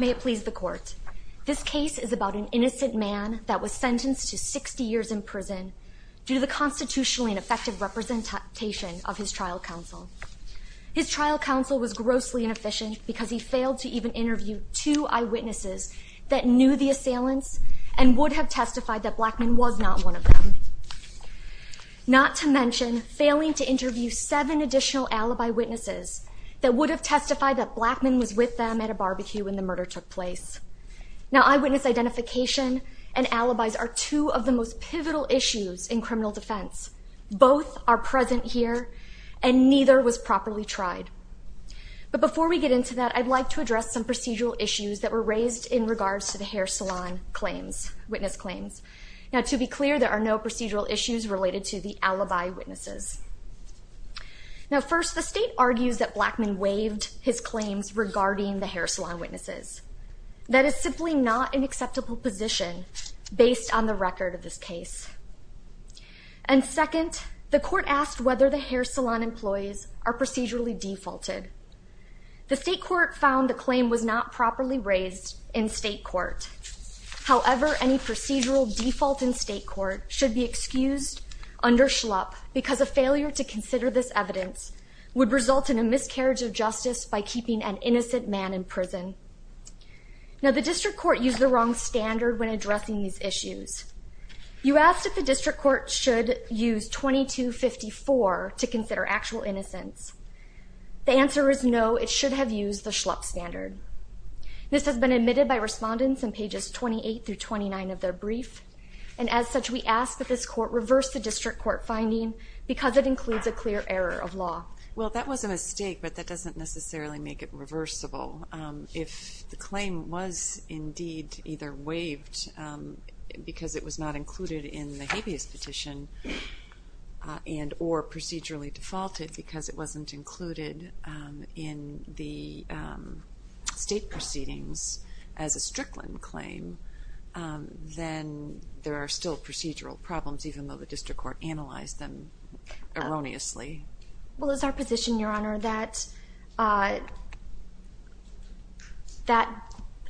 May it please the court, this case is about an innocent man that was sentenced to 60 years in prison due to the constitutionally ineffective representation of his trial counsel. His trial counsel was grossly inefficient because he failed to even interview two eyewitnesses that knew the assailants and would have testified that Blackmon was not one of them. Not to mention failing to interview seven additional alibi witnesses that would have testified that Blackmon was with them at a barbecue when the murder took place. Now eyewitness identification and alibis are two of the most pivotal issues in criminal defense. Both are present here and neither was properly tried. But before we get into that I'd like to address some procedural issues that were raised in regards to the hair salon claims, witness claims. Now to be clear there are no procedural issues related to the alibi witnesses. Now first the state argues that Blackmon waived his claims regarding the based on the record of this case. And second the court asked whether the hair salon employees are procedurally defaulted. The state court found the claim was not properly raised in state court. However any procedural default in state court should be excused under schlup because a failure to consider this evidence would result in a miscarriage of justice by keeping an innocent man in prison. Now the district court used the wrong standard when addressing these issues. You asked if the district court should use 2254 to consider actual innocence. The answer is no it should have used the schlup standard. This has been admitted by respondents in pages 28 through 29 of their brief and as such we ask that this court reverse the district court finding because it includes a clear error of law. Well that was a mistake but that doesn't necessarily make it reversible. If the claim was indeed either waived because it was not included in the habeas petition and or procedurally defaulted because it wasn't included in the state proceedings as a Strickland claim then there are still procedural problems even though the district court analyzed them erroneously. Well it's our position your honor that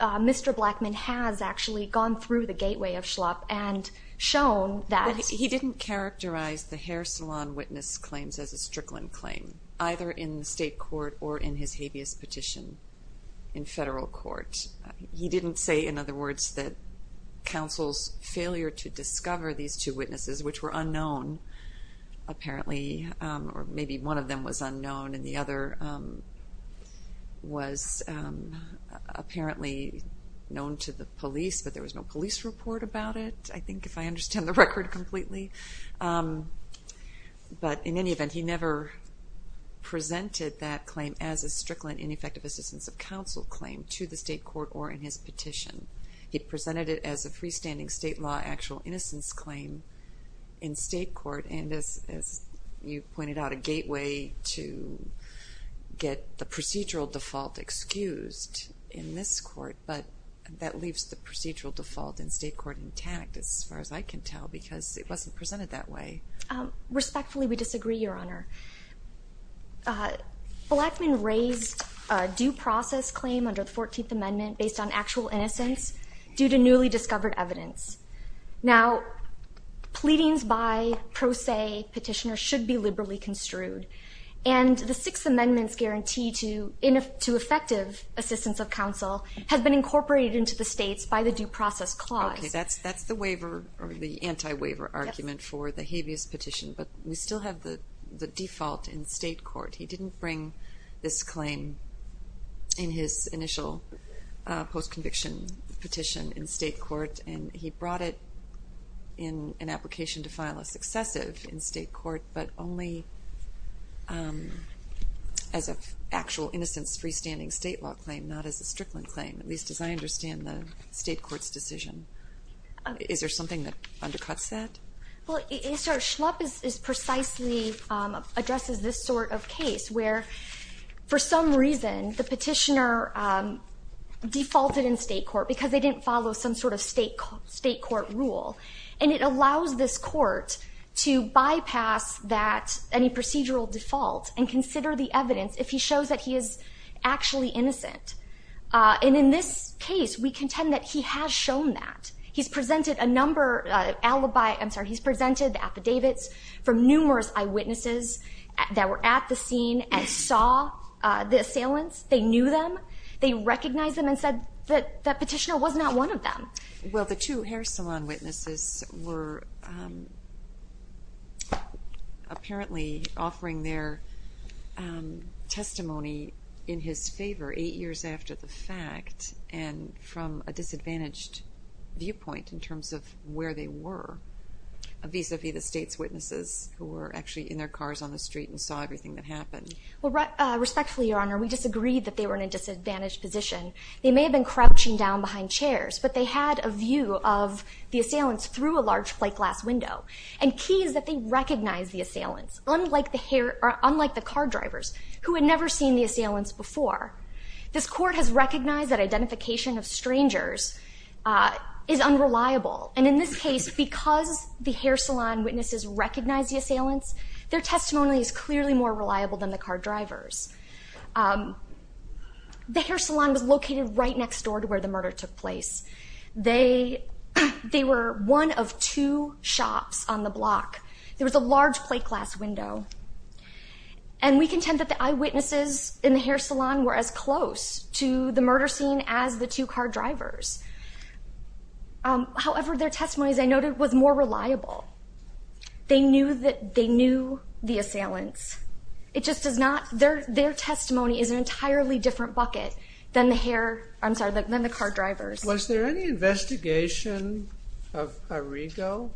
Mr. Blackman has actually gone through the gateway of schlup and shown that he didn't characterize the hair salon witness claims as a Strickland claim either in the state court or in his habeas petition in federal court. He didn't say in other words that counsel's failure to discover these two witnesses which were unknown apparently or maybe one of them was unknown and the other was apparently known to the police but there was no police report about it I think if I understand the record completely but in any event he never presented that claim as a Strickland ineffective assistance of counsel claim to the state court or in his petition. He presented it as a freestanding state law actual innocence claim in state court and as you pointed out a gateway to get the procedural default excused in this court but that leaves the procedural default in state court intact as far as I can tell because it wasn't presented that way. Respectfully we disagree your honor. Blackman raised a due process claim under the 14th amendment based on actual innocence due to newly discovered evidence. Now pleadings by pro se petitioners should be liberally construed and the Sixth Amendment's guarantee to ineffective assistance of counsel has been incorporated into the states by the due process clause. Okay that's that's the waiver or the anti-waiver argument for the habeas petition but we still have the the default in state court he didn't bring this claim in his initial post brought it in an application to file a successive in state court but only as a actual innocence freestanding state law claim not as a Strickland claim at least as I understand the state courts decision. Is there something that undercuts that? Well it's our schlup is precisely addresses this sort of case where for some reason the petitioner defaulted in state court because they didn't follow some sort of state court rule and it allows this court to bypass that any procedural default and consider the evidence if he shows that he is actually innocent and in this case we contend that he has shown that he's presented a number alibi I'm sorry he's presented the affidavits from numerous eyewitnesses that were at the scene and saw the assailants they knew them they recognized them and said that that petitioner was not one of them. Well the two hair salon witnesses were apparently offering their testimony in his favor eight years after the fact and from a disadvantaged viewpoint in terms of where they were vis-a-vis the state's witnesses who were actually in their cars on the street and saw everything that happened. Well respectfully your honor we disagreed that they were in a disadvantaged position they may have been crouching down behind chairs but they had a view of the assailants through a large plate glass window and keys that they recognize the assailants unlike the hair or unlike the car drivers who had never seen the assailants before. This court has recognized that identification of strangers is unreliable and in this case because the hair salon witnesses recognize the assailants their the hair salon was located right next door to where the murder took place they they were one of two shops on the block there was a large plate glass window and we contend that the eyewitnesses in the hair salon were as close to the murder scene as the two car drivers. However their testimonies I noted was more reliable they knew that they knew the assailants it just does not their testimony is an entirely different bucket than the hair I'm sorry like then the car drivers. Was there any investigation of Arrigo?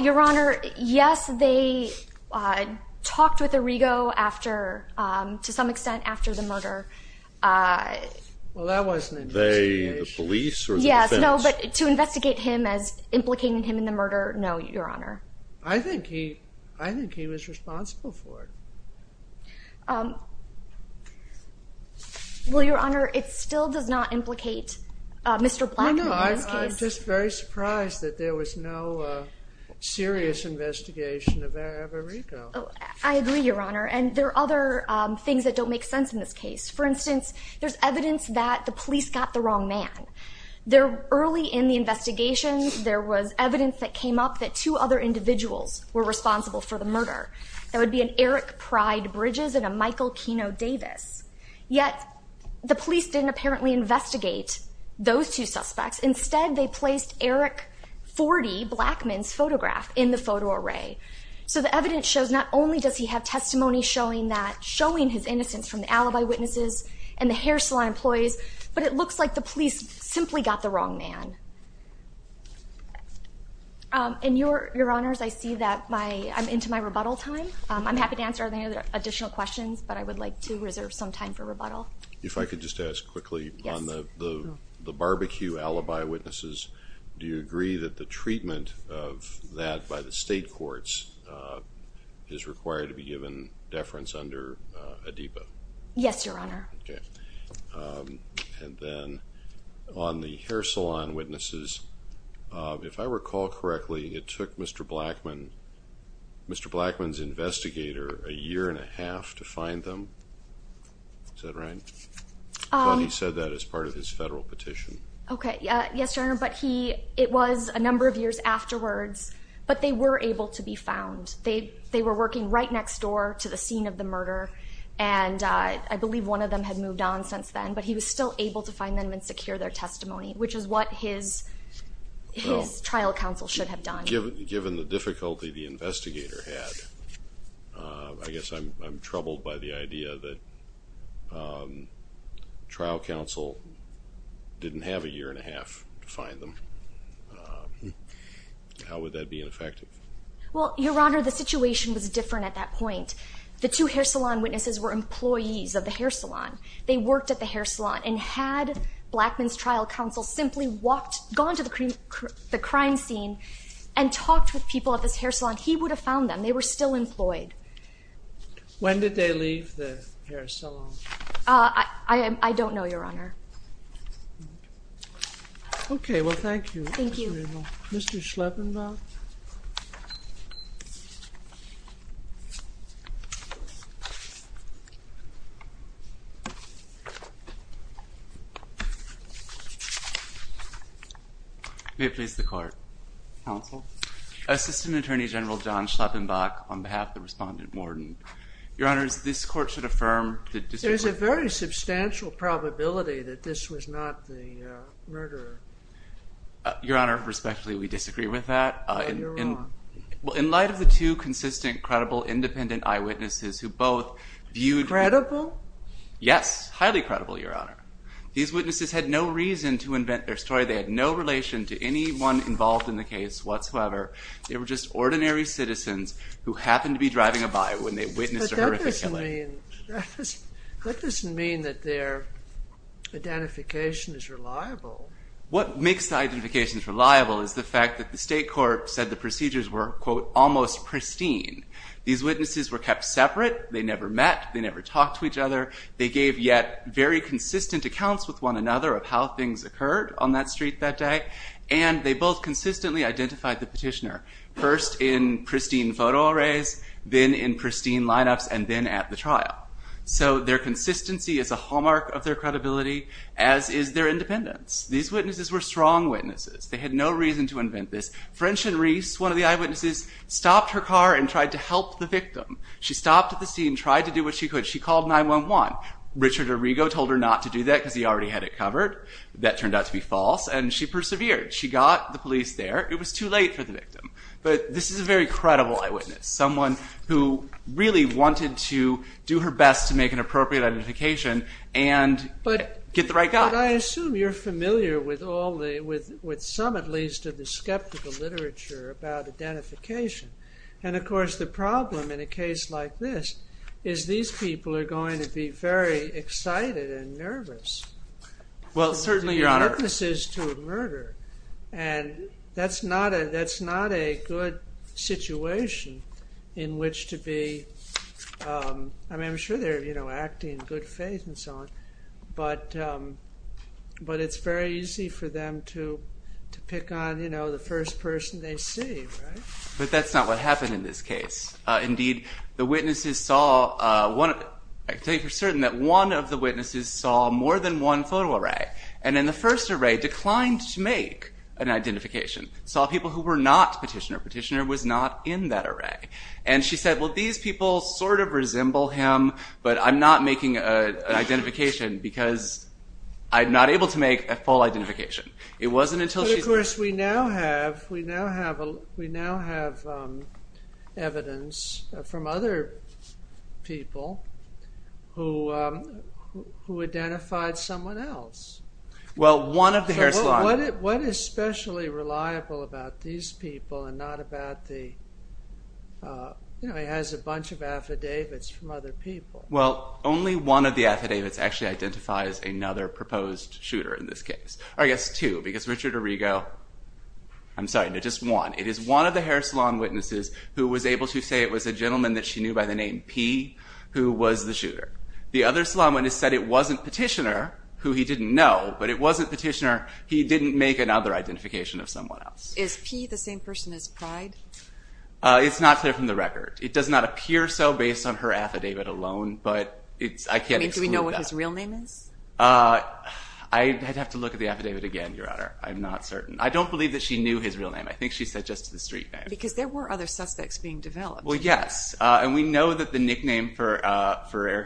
Your honor yes they talked with Arrigo after to some extent after the murder. Well that wasn't an investigation. The police? Yes no but to investigate him as implicating him in the murder no your honor. I think he I think he was responsible for it. Well your honor it still does not implicate mr. Black. I'm just very surprised that there was no serious investigation of Arrigo. I agree your honor and there are other things that don't make sense in this case for instance there's evidence that the police got the wrong man. There early in the investigation there was evidence that came up that two other individuals were responsible for the murder. That would be an Eric Pride Bridges and a Michael Kino Davis yet the police didn't apparently investigate those two suspects instead they placed Eric 40 black men's photograph in the photo array. So the evidence shows not only does he have testimony showing that showing his innocence from the alibi witnesses and the hair salon employees but it looks like the police simply got the wrong man. And your your honors I see that my I'm into my rebuttal time I'm happy to answer any additional questions but I would like to reserve some time for rebuttal. If I could just ask quickly on the the barbecue alibi witnesses do you agree that the treatment of that by the state courts is required to be given deference under a depot. Yes your honor. And then on the hair salon witnesses if I recall correctly it took Mr. Blackman Mr. Blackman's investigator a year and a half to find them. Is that right? He said that as part of his federal petition. Okay they were able to be found. They they were working right next door to the scene of the murder and I believe one of them had moved on since then but he was still able to find them and secure their testimony which is what his trial counsel should have done. Given the difficulty the investigator had I guess I'm troubled by the idea that trial counsel didn't have a year and a half to find them. How would that be ineffective? Well your honor the situation was different at that point. The two hair salon witnesses were employees of the hair salon. They worked at the hair salon and had Blackman's trial counsel simply walked gone to the crime scene and talked with people at this hair salon he would have found them. They were still employed. When did they leave the hair salon? I don't know your honor. Okay well thank you. Thank you. Mr. Schleppenbach. May it please the court. Counsel. Assistant Attorney General John Schleppenbach on behalf of the respondent warden. Your honors this court should affirm. There's a very substantial probability that this was not the murderer. Your honor respectfully we disagree with that. Well in light of the two consistent credible independent eyewitnesses who both viewed. Credible? Yes highly credible your honor. These witnesses had no reason to invent their story. They had no relation to anyone involved in the case whatsoever. They were just ordinary citizens who happened to be driving by when they witnessed a horrific killing. That doesn't mean that their identification is reliable. What makes the identification reliable is the fact that the state court said the procedures were quote almost pristine. These witnesses were kept separate. They never met. They never talked to each other. They gave yet very consistent accounts with one another of how things occurred on that street that day and they both consistently identified the petitioner. First in pristine photo arrays then in pristine lineups and then at the trial. So their consistency is a hallmark of their credibility as is their independence. These witnesses were strong witnesses. They had no reason to invent this. French and Reese one of the eyewitnesses stopped her car and tried to help the victim. She stopped at the scene tried to do what she could. She called 9 1 1. Richard Arrigo told her not to do that because he already had it covered. That turned out to be false and she this is a very credible eyewitness someone who really wanted to do her best to make an appropriate identification and but get the right guy. I assume you're familiar with all the with with some at least of the skeptical literature about identification. And of course the problem in a case like this is these people are going to be very excited and nervous. Well certainly your honor. This is to murder and that's not a that's not a good situation in which to be. I mean I'm sure they're you know acting in good faith and so on. But but it's very easy for them to pick on you know the first person they see. But that's not what happened in this case. Indeed the witnesses saw one thing for certain that one of the witnesses saw more than one photo array. And then the first array declined to make an identification. Saw people who were not petitioner. Petitioner was not in that array. And she said well these people sort of resemble him but I'm not making an identification because I'm not able to make a full identification. It wasn't until she. Of course we now have we now have we now have evidence from other people who who identified someone else. Well one of the Harris. What is especially reliable about these people and not about the. You know he has a bunch of affidavits from other people. Well only one of the affidavits actually identifies another proposed shooter in this case. Or I guess two because Richard Arrigo. I'm sorry no just one. It is one of the Harris salon witnesses who was able to say it was a gentleman that she knew by the name P who was the shooter. The other salon witness said it wasn't petitioner who he didn't know. But it wasn't petitioner. He didn't make another identification of someone else. Is P the same person as Pride? It's not clear from the record. It does not appear so based on her affidavit alone. But it's I can't. Do we know what his real name is? I'd have to look at the affidavit again Your Honor. I'm not certain. I don't believe that his real name. I think she said just the street name. Because there were other suspects being developed. Well yes and we know that the nickname for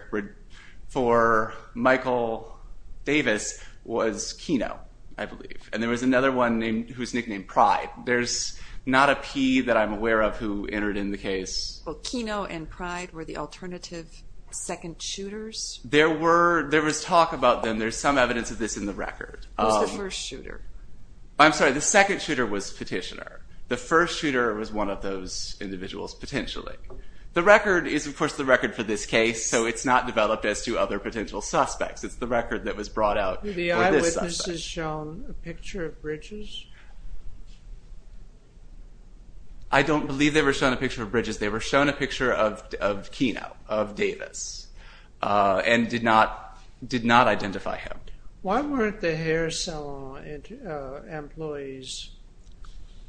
Michael Davis was Kino I believe. And there was another one named who's nicknamed Pride. There's not a P that I'm aware of who entered in the case. Well Kino and Pride were the alternative second shooters? There were there was talk about them. There's some evidence of this in the record. Who's the first shooter? I'm sorry the second shooter was petitioner. The first shooter was one of those individuals potentially. The record is of course the record for this case. So it's not developed as to other potential suspects. It's the record that was brought out. Were the eyewitnesses shown a picture of Bridges? I don't believe they were shown a picture of Bridges. They were shown a employee's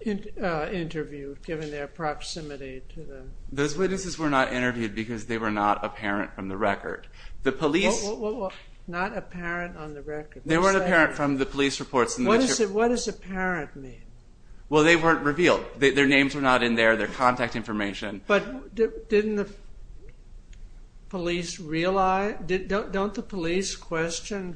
interview given their proximity to them. Those witnesses were not interviewed because they were not apparent from the record. The police. Not apparent on the record. They weren't apparent from the police reports. What does apparent mean? Well they weren't revealed. Their names were not in there. Their contact information. But didn't the police realize? Don't the police question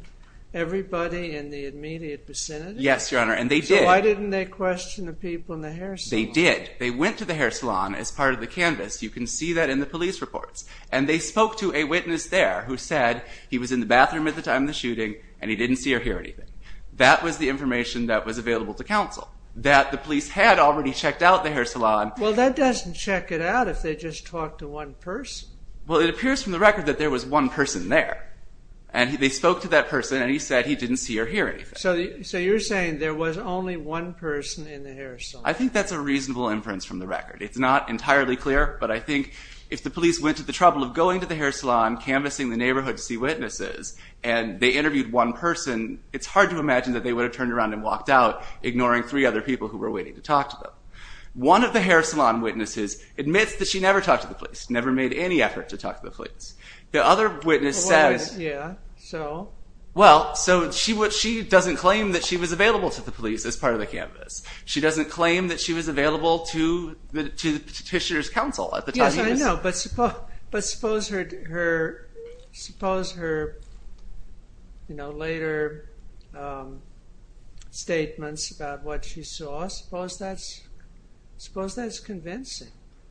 everybody in the immediate vicinity? Yes your honor and they did. So why didn't they question the people in the hair salon? They did. They went to the hair salon as part of the canvas. You can see that in the police reports. And they spoke to a witness there who said he was in the bathroom at the time of the shooting and he didn't see or hear anything. That was the information that was available to counsel. That the police had already checked out the hair salon. Well that doesn't check it out if they just talked to one person. Well it appears from the record that there was one person there. And they spoke to that person and he said he didn't see or hear anything. So you're saying there was only one person in the hair salon. I think that's a reasonable inference from the record. It's not entirely clear but I think if the police went to the trouble of going to the hair salon canvassing the neighborhood to see witnesses and they interviewed one person it's hard to imagine that they would have turned around and walked out ignoring three other people who were waiting to talk to them. One of the hair salon witnesses admits that she never talked to the police. Never made any effort to talk to the police. The other witness says. Yeah so? Well so she what she doesn't claim that she was available to the police as part of the canvas. She doesn't claim that she was available to the petitioner's counsel at the time. Yes I know but suppose but suppose her you know later statements about what she saw. Suppose that's convincing.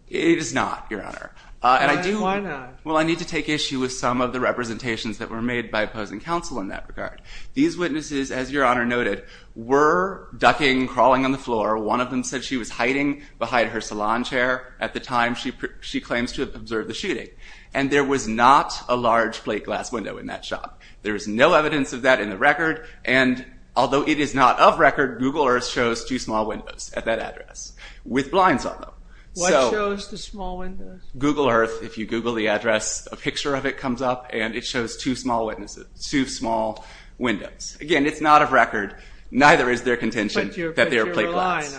It is not your honor. And I do. Why not? Well I need to take issue with some of the representations that were made by opposing counsel in that regard. These witnesses as your honor noted were ducking crawling on the floor. One of them said she was hiding behind her salon chair at the time she claims to have observed the shooting. And there was not a large plate glass window in that shop. There is no evidence of that in the record and although it is not of record Google Earth shows two small windows at that address with blinds on them. What shows the small windows? Google Earth if you google the address a picture of it comes up and it shows two small witnesses two small windows. Again it's not of record neither is there contention that they are plate glass.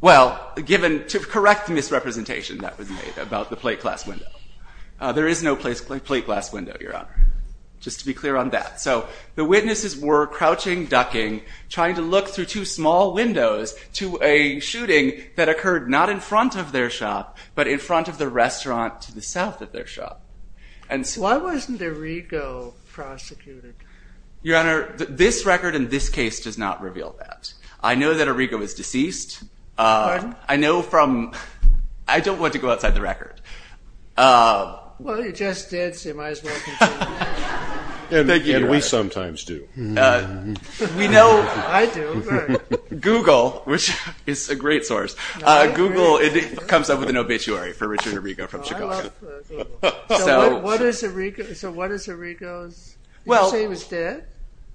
Well given to correct the misrepresentation that was made about the plate glass window. There is no place like plate glass window your honor. Just to be clear on that. So the witnesses were crouching ducking trying to look through two small windows to a shooting that occurred not in front of their shop but in front of the restaurant to the south of their shop. Why wasn't Arrigo prosecuted? Your honor this record in this case does not reveal that. I know that Arrigo is deceased. Pardon? I know from I don't want to go outside the record. Well you just did so you might as well continue. Thank you. And we sometimes do. We know. I do. Google which is a great source. Google it comes up with an obituary for Richard Arrigo from Chicago. So what is Arrigo's? You say he was dead?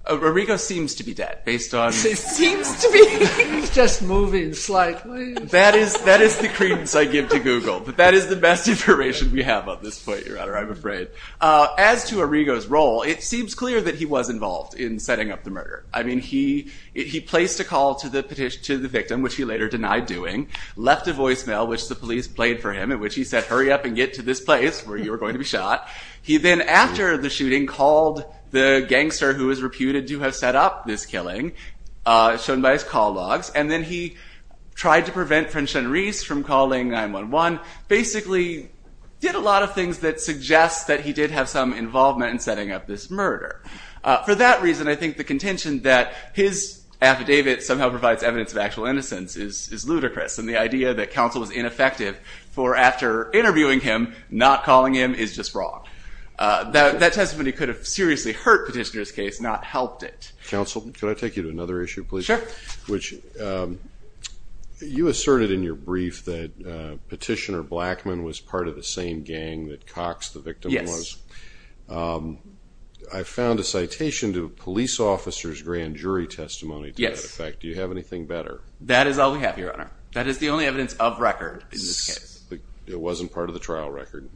Arrigo seems to be dead based on. It seems to be. He's just moving slightly. That is that is the credence I give to Google but that is the best information we have on this point your honor I'm afraid. As to Arrigo's role it seems clear that he was involved in setting up the murder. I mean he he placed a call to the petition to the victim which he later denied doing. Left a voicemail which the police played for him in which he said hurry up and get to this place where you were going to be shot. He then after the shooting called the gangster who is reputed to have set up this killing shown by his call logs and then he tried to prevent French and Reese from calling 9-1-1 basically did a lot of things that suggests that he did have some involvement in setting up this murder. For that reason I think the contention that his affidavit somehow provides evidence of actual innocence is is ludicrous and the idea that counsel was ineffective for after interviewing him not calling him is just wrong. That that testimony could have seriously hurt petitioner's case not helped it. Counsel can I take you to another issue please? Sure. Which you asserted in your brief that petitioner Blackman was part of the same gang that Cox the victim was. Yes. I found a citation to a police officer's grand jury testimony to that effect. Yes. Do you have anything better? That is all we have your honor. That is the only evidence of record in this case. It wasn't part of the trial record?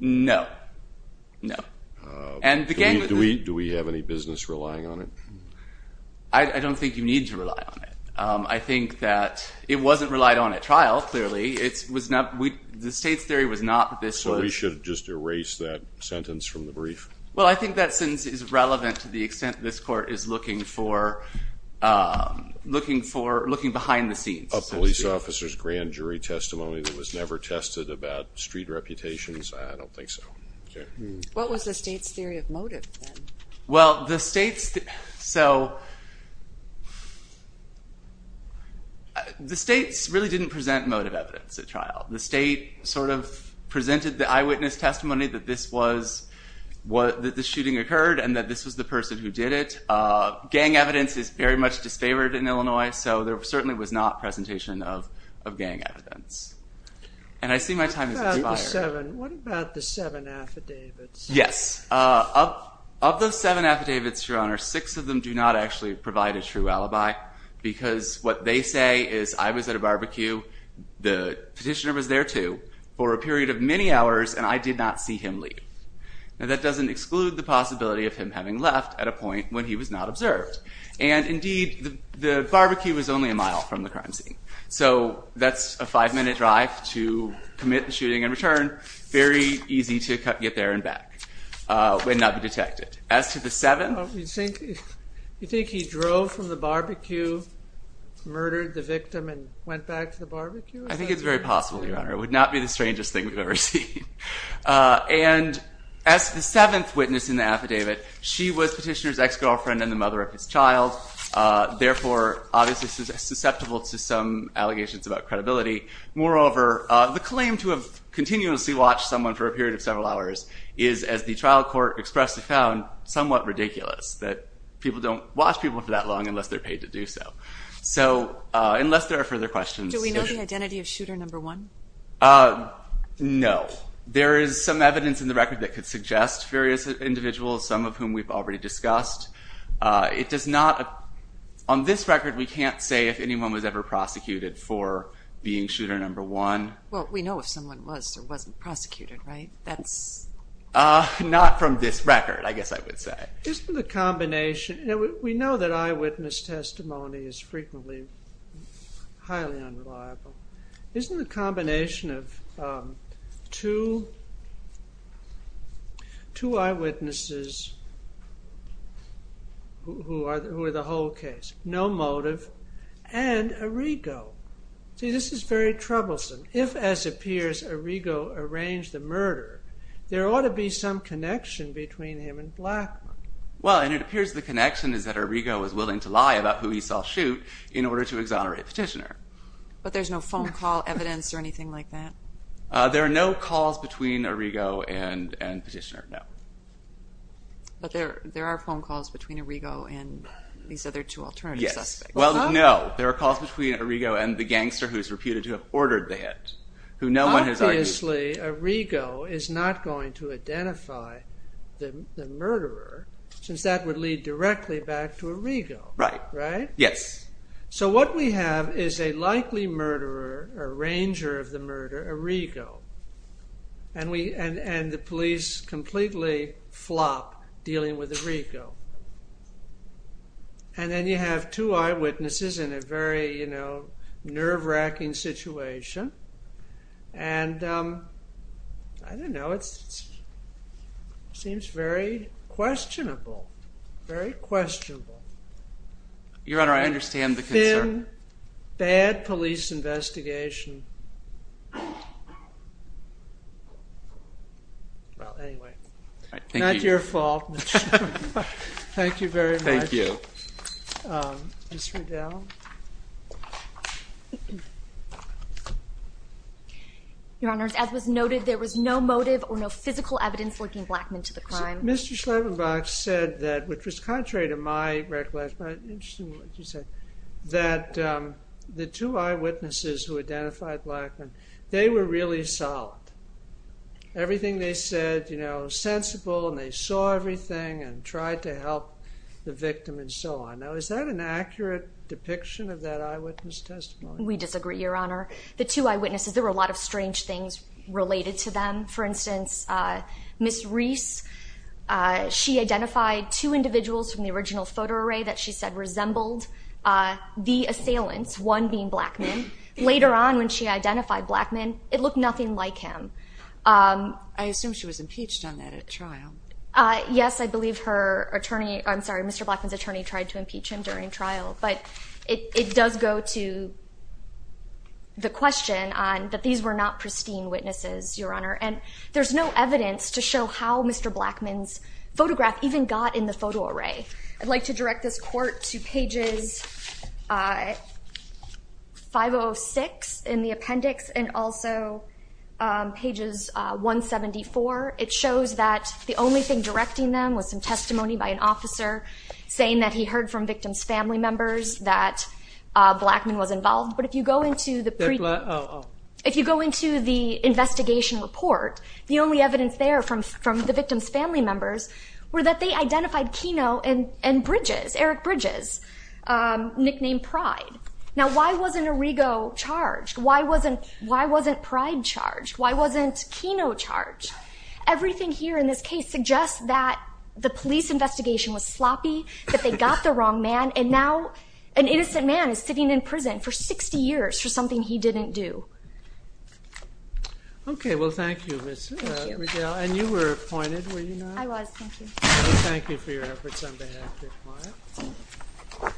No. No. And do we have any business relying on it? I don't think you need to rely on it. I think that it wasn't relied on at trial clearly it was not we the state's theory was not that this was. So we should just erase that sentence from the brief? Well I think that sentence is relevant to the extent this court is looking for looking for looking behind the scenes. A police officer's grand jury testimony that was never tested about street reputations? I don't think so. What was the state's theory of motive then? Well the state's so the state's really didn't present motive evidence at trial. The state sort of presented the eyewitness testimony that this was what the shooting occurred and that this was the person who did it. Gang evidence is very much disfavored in Illinois so there certainly was not presentation of gang evidence. And I see my time has expired. What about the seven affidavits? Yes of those seven affidavits your honor six of them do not actually provide a true alibi because what they say is I was at a barbecue the petitioner was there too for a period of many hours and I did not see him leave. Now that doesn't exclude the possibility of him having left at a point when he was not observed and indeed the barbecue was only a mile from the crime scene. So that's a five minute drive to commit the shooting and return very easy to get there and back and not be detected. As to the seven? You think he drove from the barbecue murdered the victim and went back to the barbecue? I think it's very possible your honor it would not be the strangest thing we've As the seventh witness in the affidavit she was petitioner's ex-girlfriend and the mother of his child therefore obviously susceptible to some allegations about credibility. Moreover the claim to have continuously watched someone for a period of several hours is as the trial court expressly found somewhat ridiculous that people don't watch people for that long unless they're paid to do so. So unless there are further questions. Do we know the identity of shooter number one? No. There is some evidence in the record that could suggest various individuals some of whom we've already discussed. It does not on this record we can't say if anyone was ever prosecuted for being shooter number one. Well we know if someone was or wasn't prosecuted right? That's not from this record I guess I would say. Isn't the combination we know that eyewitness testimony is frequently highly unreliable. Isn't the combination of two eyewitnesses who are the whole case. No motive and Arrigo. See this is very troublesome. If as appears Arrigo arranged the murder there ought to be some connection between him and Blackmon. Well and it appears the connection is that Arrigo was willing to lie about who he saw shoot in order to exonerate Petitioner. But there's no phone call evidence or anything like that? There are no calls between Arrigo and Petitioner. No. But there there are phone calls between Arrigo and these other two alternative suspects. Well no there are calls between Arrigo and the gangster who is reputed to have ordered that. Obviously Arrigo is not going to identify the murderer since that would lead directly back to Arrigo. Right. Right. Yes. So what we have is a likely murderer or arranger of the murder Arrigo. And we and and the police completely flop dealing with Arrigo. And then you have two eyewitnesses in a very you know nerve-wracking situation. And I don't know it's seems very questionable. Very questionable. Your Honor I understand the concern. Thin bad police investigation. Well anyway. Not your fault. Thank you very much. Thank you. Um Ms. Riddell? Your Honor as was noted there was no motive or no physical evidence linking Blackmun to the crime. Mr. Schleppenbach said that which was contrary to my recollection but interesting what you said that um the two eyewitnesses who identified Blackmun they were really solid. Everything they said you know sensible and they saw everything and tried to help the victim and so on. Now is that an accurate depiction of that eyewitness testimony? We disagree Your Honor. The two eyewitnesses there were a lot of strange things related to them. For instance uh Ms. Reese she identified two individuals from the original photo array that she said resembled the assailants. One being Blackmun. Later on when she identified Blackmun it looked nothing like him. Um I assume she was impeached on that at trial. Uh yes I believe her attorney I'm sorry Mr. Blackmun's attorney tried to impeach him during trial but it it does go to the question on that these were not pristine witnesses Your Honor and there's no evidence to show how Mr. Blackmun's photograph even got in the photo array. I'd like to direct this court to pages uh 506 in the appendix and also um pages uh 174. It shows that the only thing directing them was some testimony by an officer saying that he heard from victim's family members that uh Blackmun was involved. But if you go into the if you go into the investigation report the only evidence there from from the victim's family members were that they identified Kino and and Bridges. Eric Bridges um nicknamed Pride. Now why wasn't Arrigo charged? Why wasn't why wasn't Pride charged? Why wasn't Kino charged? Everything here in this case suggests that the police investigation was sloppy that they got the wrong man and now an innocent man is sitting in prison for 60 years for something he didn't do. Okay well thank you Ms. Riddell and you were appointed were you not? I was thank you. Thank you for your efforts on behalf of your client.